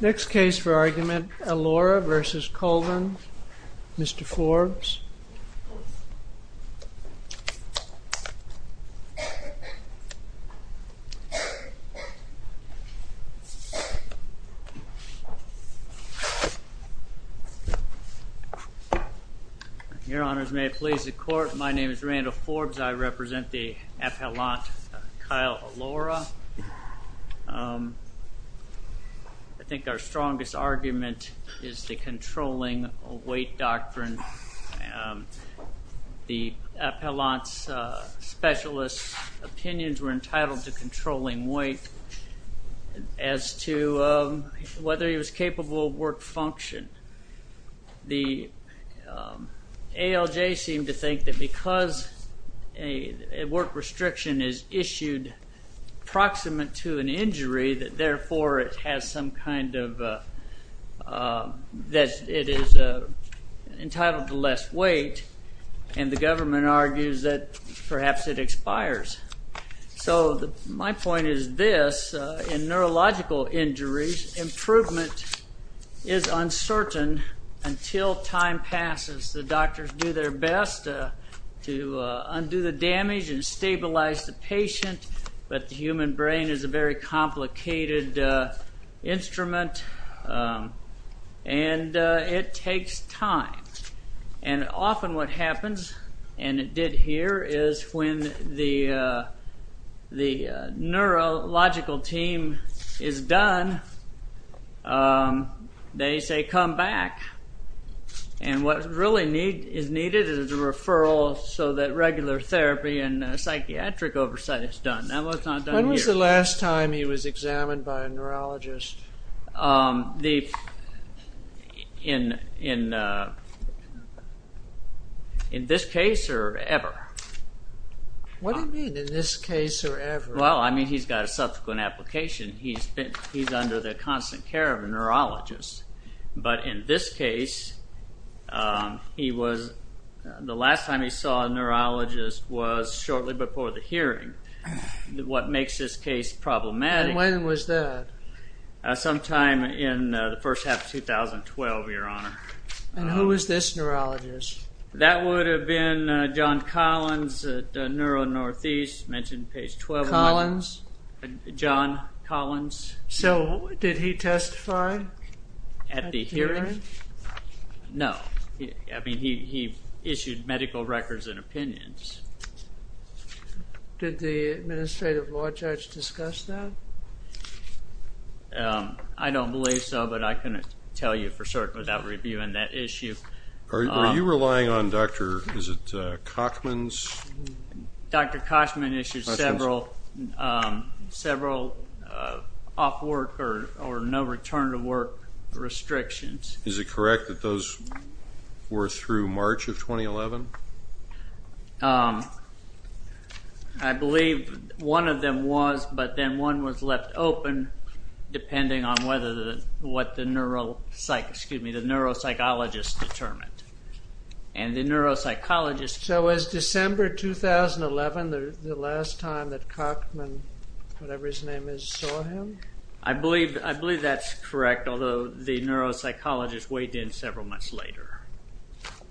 Next case for argument, Alaura v. Colvin, Mr. Forbes. Your honors, may it please the court, my name is Randall Forbes, I represent the appellant Kyle Alaura. I think our strongest argument is the controlling weight doctrine. The appellant's specialist's opinions were entitled to controlling weight as to whether he was capable of work function. The ALJ seemed to think that because a work restriction is issued proximate to an injury, that therefore it has some kind of, that it is entitled to less weight, and the government argues that perhaps it expires. So my point is this, in neurological injuries improvement is uncertain until time passes. The doctors do their best to undo the damage and stabilize the patient, but the human brain is a very complicated instrument and it takes time. And often what happens, and it did here, is when the neurological team is done, they say come back, and what really is needed is a referral so that regular therapy and psychiatric oversight is done. Now what's not done here? When was the last time he was examined by a neurologist? Um, in this case or ever? What do you mean in this case or ever? Well, I mean he's got a subsequent application. He's under the constant care of a neurologist, but in this case, he was, the last time he saw a neurologist was shortly before the hearing. What makes this case problematic... Sometime in the first half of 2012, your honor. And who is this neurologist? That would have been John Collins at Neuro Northeast, mentioned page 12. Collins? John Collins. So did he testify? At the hearing? No, I mean he issued medical records and opinions. Did the administrative law judge discuss that? Um, I don't believe so, but I couldn't tell you for certain without reviewing that issue. Are you relying on Dr., is it, uh, Kochman's? Dr. Kochman issued several, um, several off work or no return to work restrictions. Is it correct that those were through March of 2011? Um, I believe one of them was, but then one was left open depending on whether the, what the neuropsych, excuse me, the neuropsychologist determined. And the neuropsychologist... So was December 2011 the last time that Kochman, whatever his name is, saw him? I believe, I believe that's correct, although the neuropsychologist weighed in several months later.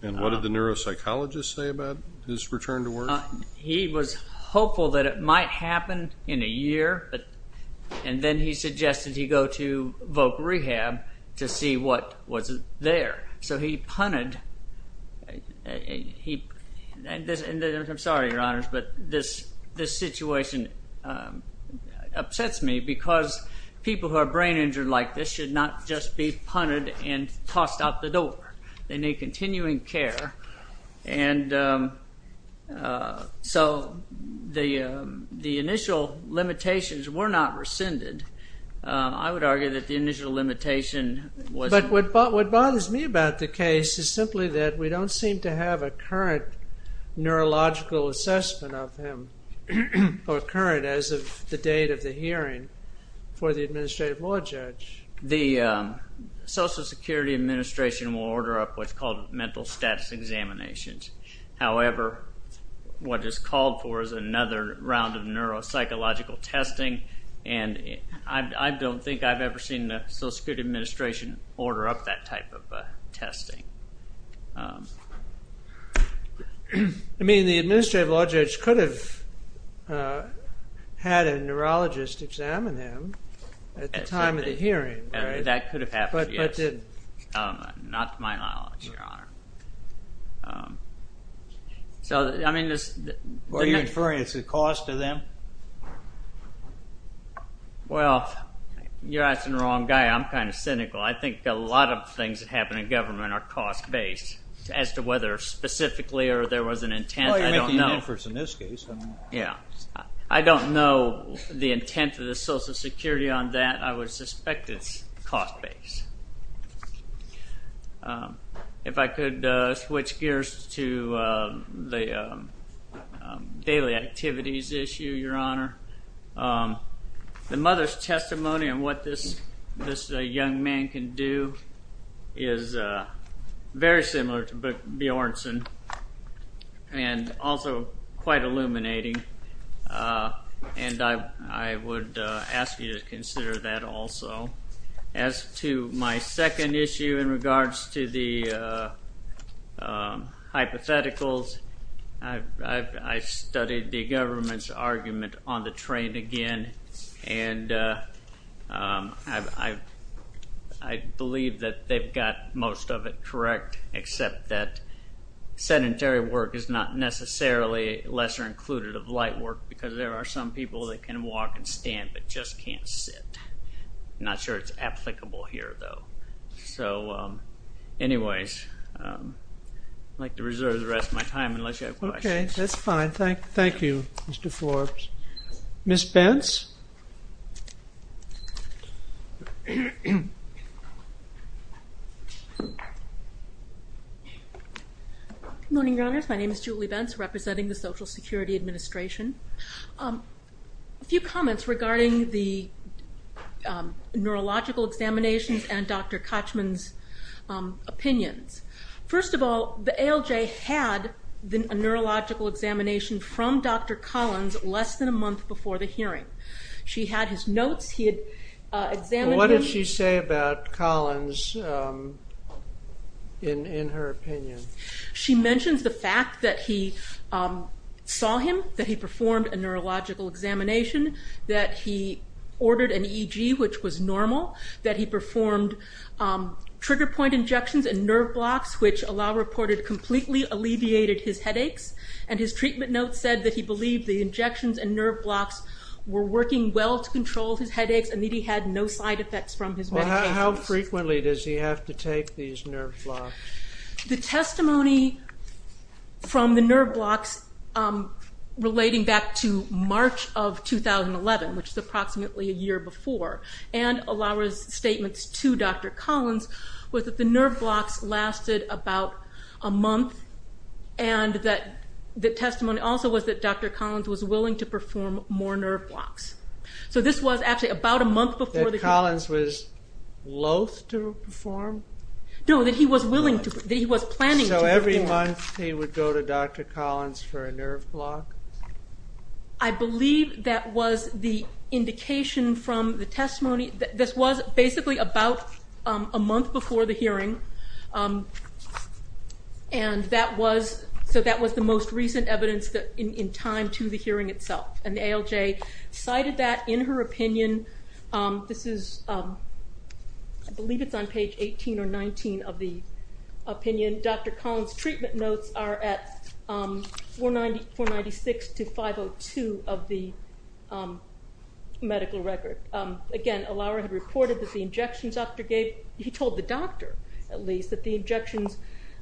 And what did the neuropsychologist say about his return to work? He was hopeful that it might happen in a year, but, and then he suggested he go to voc rehab to see what was there. So he punted, he, and I'm sorry, your honors, but this, this situation, um, upsets me because people who are brain injured like this should not just be continuing care. And, um, uh, so the, um, the initial limitations were not rescinded. Um, I would argue that the initial limitation was... But what bothers me about the case is simply that we don't seem to have a current neurological assessment of him or current as of the date of the hearing for the administrative law judge. The, um, Social Security Administration will order up what's called mental status examinations. However, what is called for is another round of neuropsychological testing, and I don't think I've ever seen the Social Security Administration order up that type of testing. I mean, the administrative law judge could have, uh, had a neurologist examine him at the time of the hearing, right? That could have happened, yes. But did... Um, not to my knowledge, your honor. Um, so, I mean, this... Are you inferring it's a cost to them? Well, you're asking the wrong guy. I'm kind of cynical. I think a lot of things that happen in government are cost-based as to whether specifically or there was an intent. I don't know. Yeah. I don't know the intent of the Social Security on that. I would suspect it's cost-based. If I could switch gears to the daily activities issue, your honor. The mother's testimony on what this young man can do is very similar to Bjornsson and also quite illuminating, and I would ask you to consider that also. As to my second issue in regards to the hypotheticals, I've studied the government's argument on the train again, and I believe that they've got most of it correct, except that sedentary work is not necessarily lesser included of light work because there are some people that can walk and stand but just can't sit. I'm not sure it's applicable here, though. So, um, anyways, I'd like to reserve the rest of my time unless you have questions. Okay, that's fine. Thank you, Mr. Forbes. Ms. Bence. Good morning, your honors. My name is Julie Bence, representing the Social Security Administration. A few comments regarding the neurological examinations and Dr. Kochman's opinions. First of all, the ALJ had a neurological examination from Dr. Collins less than a month before the hearing. She had his notes, he had examined him. What did she say about Collins in her opinion? She mentions the fact that he saw him, that he performed a neurological examination, that he ordered an EG, which was normal, that he performed trigger point injections and nerve blocks, which ALJ reported completely alleviated his headaches, and his treatment notes said that he believed the injections and nerve blocks were working well to control his headaches and that he had no side effects from his medications. How frequently does he have to take these nerve blocks? The testimony from the nerve blocks relating back to March of 2011, which is approximately a year before, and ALJ's statements to Dr. Collins was that the nerve blocks lasted about a month and that the testimony also was that Dr. Collins was willing to perform more nerve blocks. So this was actually about a month before the hearing. That Collins was loathe to perform? No, that he was planning to perform. So every month he would go to Dr. Collins for a nerve block? I believe that was the indication from the testimony that this was basically about a month before the hearing, and that was the most recent evidence in time to the hearing itself. And ALJ cited that in her opinion. This is, I believe it's on page 18 or 19 of the opinion. Dr. Collins' treatment notes are at 496 to 502 of the medical record. Again, Allauer had reported that the injections after gave, he told the doctor at least, that the injections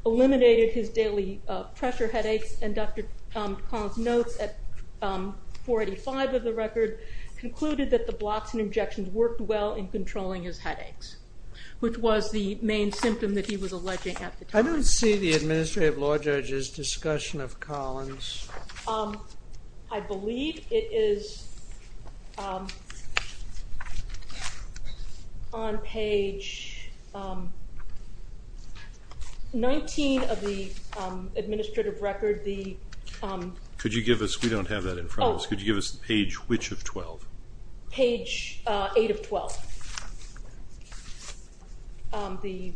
eliminated his daily pressure headaches and Dr. Collins' notes at 485 of the record concluded that the blocks and injections worked well in controlling his headaches, which was the main symptom that he was alleging at the time. I don't see the Administrative Law Judge's discussion of Collins. I believe it is on page 19 of the administrative record. Could you give us, we don't have that in front of us, could you give us page which of 12? Page 8 of 12. The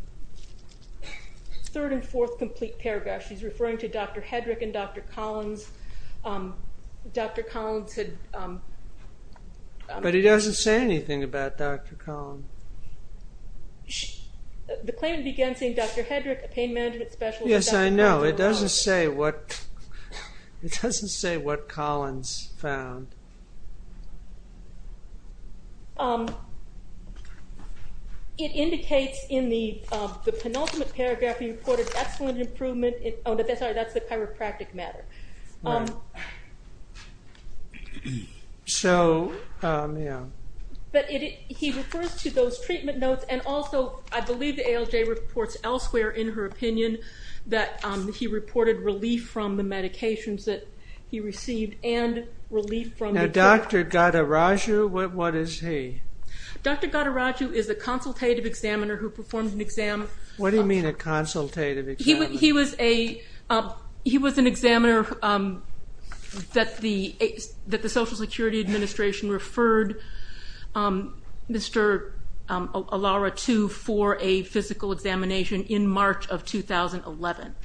third and fourth complete paragraph, she's referring to Dr. Hedrick and Dr. Collins. Dr. Collins had... But he doesn't say anything about Dr. Collins. The claimant began saying Dr. Hedrick, a pain management specialist... No, it doesn't say what Collins found. It indicates in the penultimate paragraph he reported excellent improvement, oh sorry, that's the chiropractic matter. But he refers to those treatment notes and also I believe the ALJ reports elsewhere in her opinion that he reported relief from the medications that he received and relief from... Now Dr. Ghadiraju, what is he? Dr. Ghadiraju is a consultative examiner who performed an exam... What do you mean a consultative examiner? He was an examiner that the Social Security Administration referred Mr. Alara to for a physical examination in March of 2011.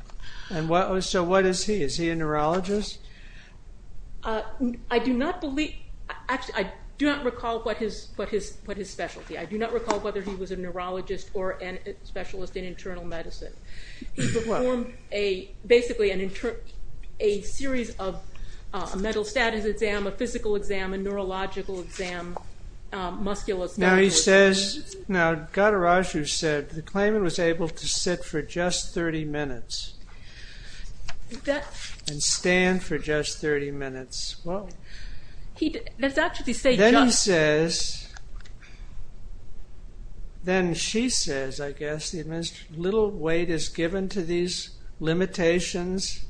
And so what is he? Is he a neurologist? I do not believe, actually I do not recall what his specialty. I do not recall whether he was a neurologist or a specialist in internal medicine. He performed a, basically a series of a mental status exam, a physical exam, a neurological exam, musculoskeletal... Now he says, now Ghadiraju said the claimant was able to sit for just 30 minutes and stand for just 30 minutes, well, then he says, then she says, I guess, a little weight is given to these limitations.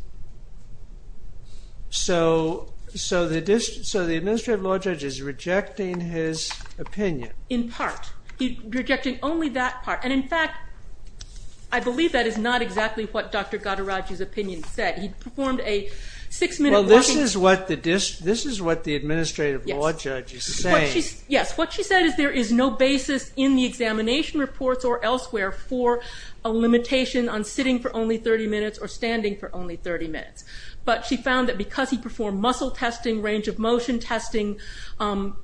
So the Administrative Law Judge is rejecting his opinion. In part. Rejecting only that part. And in fact, I believe that is not exactly what Dr. Ghadiraju's opinion said. He performed a six minute walking... Well, this is what the Administrative Law Judge is saying. Yes, what she said is there is no basis in the examination reports or elsewhere for a limitation on sitting for only 30 minutes or standing for only 30 minutes. But she found that because he performed muscle testing, range of motion testing,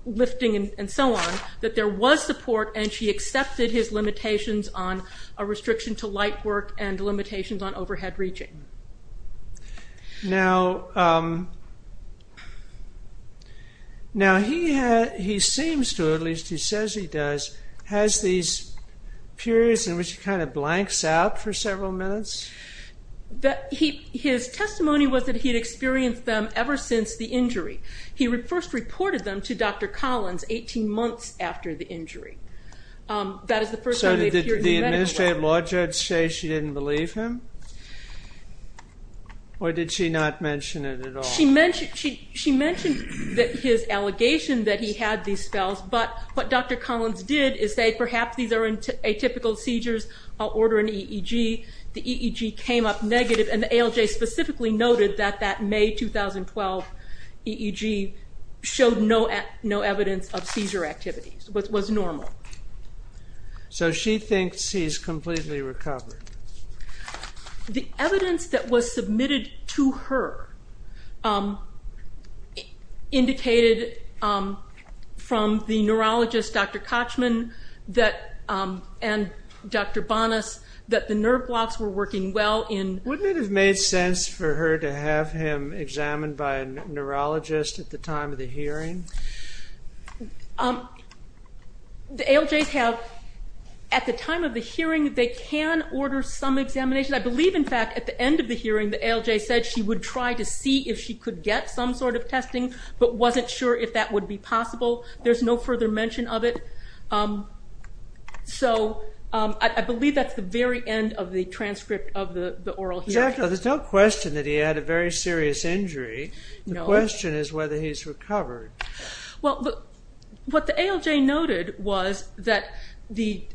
lifting and so on, that there was support and she accepted his limitations on a restriction to light work and limitations on overhead reaching. Now, he seems to, at least he says he does, has these periods in which he kind of blanks out for several minutes? His testimony was that he had experienced them ever since the injury. He first reported them to Dr. Collins 18 months after the injury. So did the Administrative Law Judge say she didn't believe him? Or did she not mention it at all? She mentioned that his allegation that he had these spells, but what Dr. Collins did is say perhaps these are atypical seizures. I'll order an EEG. The EEG came up negative. And the ALJ specifically noted that that May 2012 EEG showed no evidence of seizure activity. It was normal. So she thinks he's completely recovered. The evidence that was submitted to her indicated from the neurologist Dr. Kochman and Dr. Bonas that the nerve blocks were working well in... Wouldn't it have made sense for her to have him examined by a neurologist at the time of the hearing? The ALJs have, at the time of the hearing, they can order some examination. I believe in fact at the end of the hearing the ALJ said she would try to see if she could get some sort of testing, but wasn't sure if that would be possible. There's no further mention of it. So I believe that's the very end of the transcript of the oral hearing. There's no question that he had a very serious injury. The question is whether he's recovered. What the ALJ noted was that the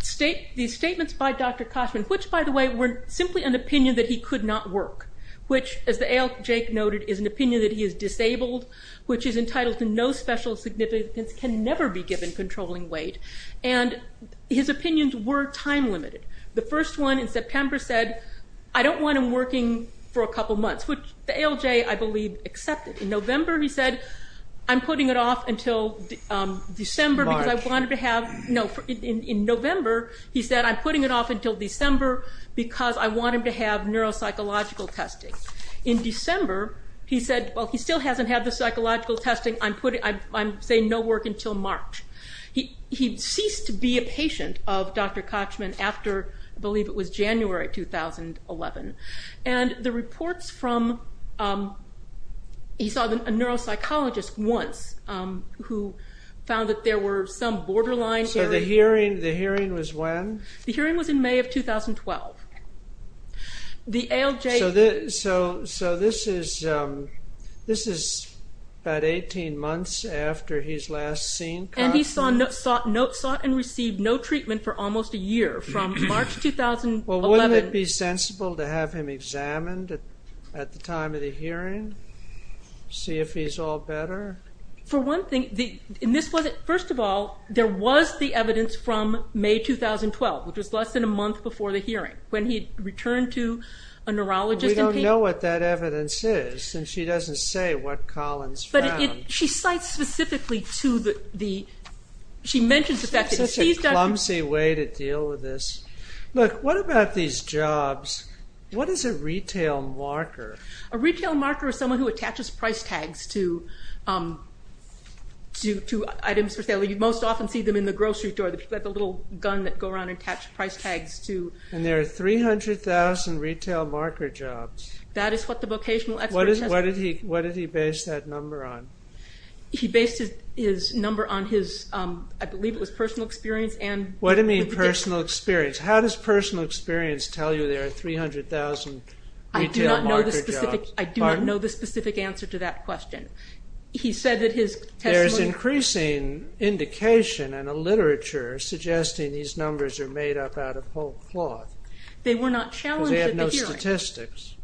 statements by Dr. Kochman, which by the way were simply an opinion that he could not work, which as the ALJ noted is an opinion that he is disabled, which is entitled to no special significance, can never be given controlling weight. And his opinions were time limited. The first one in September said, I don't want him working for a couple months, which the ALJ I believe accepted. In November he said, I'm putting it off until December because I wanted to have... March. No, in November he said, I'm putting it off until December because I want him to have neuropsychological testing. In December he said, well he still hasn't had the psychological testing. I'm saying no work until March. He ceased to be a patient of Dr. Kochman after, I believe it was January 2011. And the reports from... He saw a neuropsychologist once who found that there were some borderline... So the hearing was when? The hearing was in May of 2012. The ALJ... So this is about 18 months after his last seen contact? And he sought and received no treatment for almost a year from March 2011. Well wouldn't it be sensible to have him examined at the time of the hearing? See if he's all better? For one thing, first of all, there was the evidence from May 2012, which was less than a month before the hearing. When he returned to a neurologist... We don't know what that evidence is since she doesn't say what Collins found. She cites specifically to the... She mentions the fact that he ceased... It's such a clumsy way to deal with this. Look, what about these jobs? What is a retail marker? A retail marker is someone who attaches price tags to items for sale. You most often see them in the grocery store. They have a little gun that go around and attach price tags to... And there are 300,000 retail marker jobs. That is what the vocational expert tested. What did he base that number on? He based his number on his... I believe it was personal experience and... What do you mean personal experience? How does personal experience tell you there are 300,000 retail marker jobs? I do not know the specific answer to that question. He said that his testimony... There's increasing indication in the literature suggesting these numbers are made up out of whole cloth. They were not challenged at the hearing. Because they had no statistics.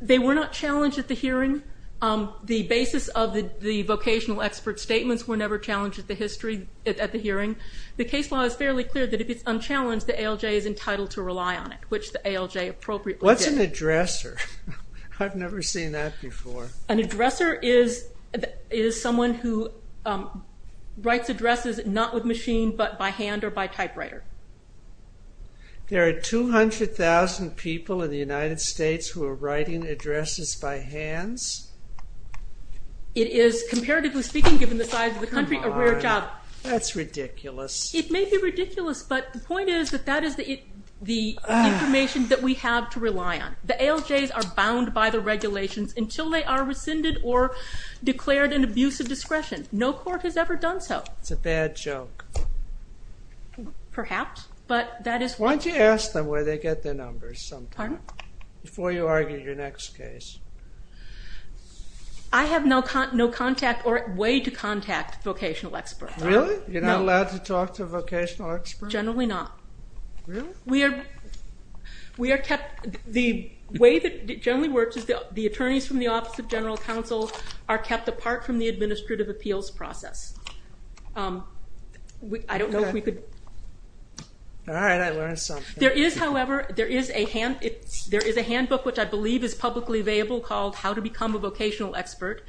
They were not challenged at the hearing. The basis of the vocational expert statements were never challenged at the hearing. The case law is fairly clear that if it's unchallenged, the ALJ is entitled to rely on it, which the ALJ appropriately did. What's an addresser? I've never seen that before. An addresser is someone who writes addresses not with machine, but by hand or by typewriter. There are 200,000 people in the United States who are writing addresses by hands? It is, comparatively speaking, given the size of the country, a rare job. That's ridiculous. It may be ridiculous, but the point is that that is the information that we have to rely on. The ALJs are bound by the regulations until they are rescinded or declared an abuse of discretion. No court has ever done so. It's a bad joke. Perhaps, but that is... Why don't you ask them where they get their numbers sometimes? Pardon? Before you argue your next case. I have no contact or way to contact a vocational expert. Really? You're not allowed to talk to a vocational expert? Generally not. Really? We are kept... The way that it generally works is the attorneys from the Office of General Counsel are kept apart from the administrative appeals process. I don't know if we could... Alright, I learned something. There is, however, a handbook which I believe is publicly available called How to Become a Vocational Expert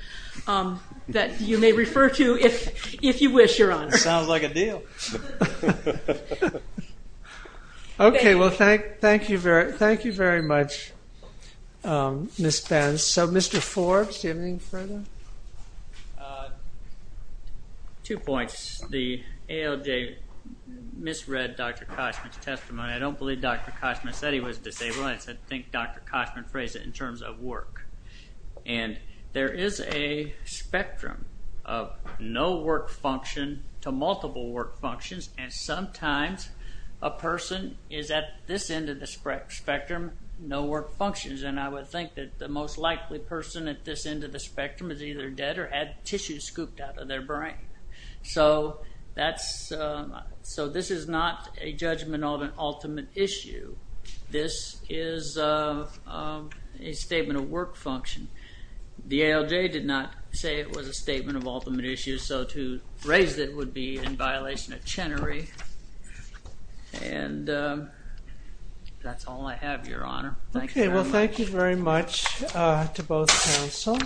that you may refer to if you wish, Your Honor. Sounds like a deal. Okay, well thank you very much, Miss Benz. So, Mr. Forbes, do you have anything further? Uh, two points. The ALJ misread Dr. Koschman's testimony. I don't believe Dr. Koschman said he was disabled. I think Dr. Koschman phrased it in terms of work. And there is a spectrum of no work function to multiple work functions and sometimes a person is at this end of the spectrum, no work functions, and I would think that the most likely person at this end of the spectrum is either dead or had tissue scooped out of their brain. So this is not a judgment of an ultimate issue. This is a statement of work function. The ALJ did not say it was a statement of ultimate issue, so to raise it would be in violation of Chenery. And that's all I have, Your Honor. Okay, well thank you very much to both counsel.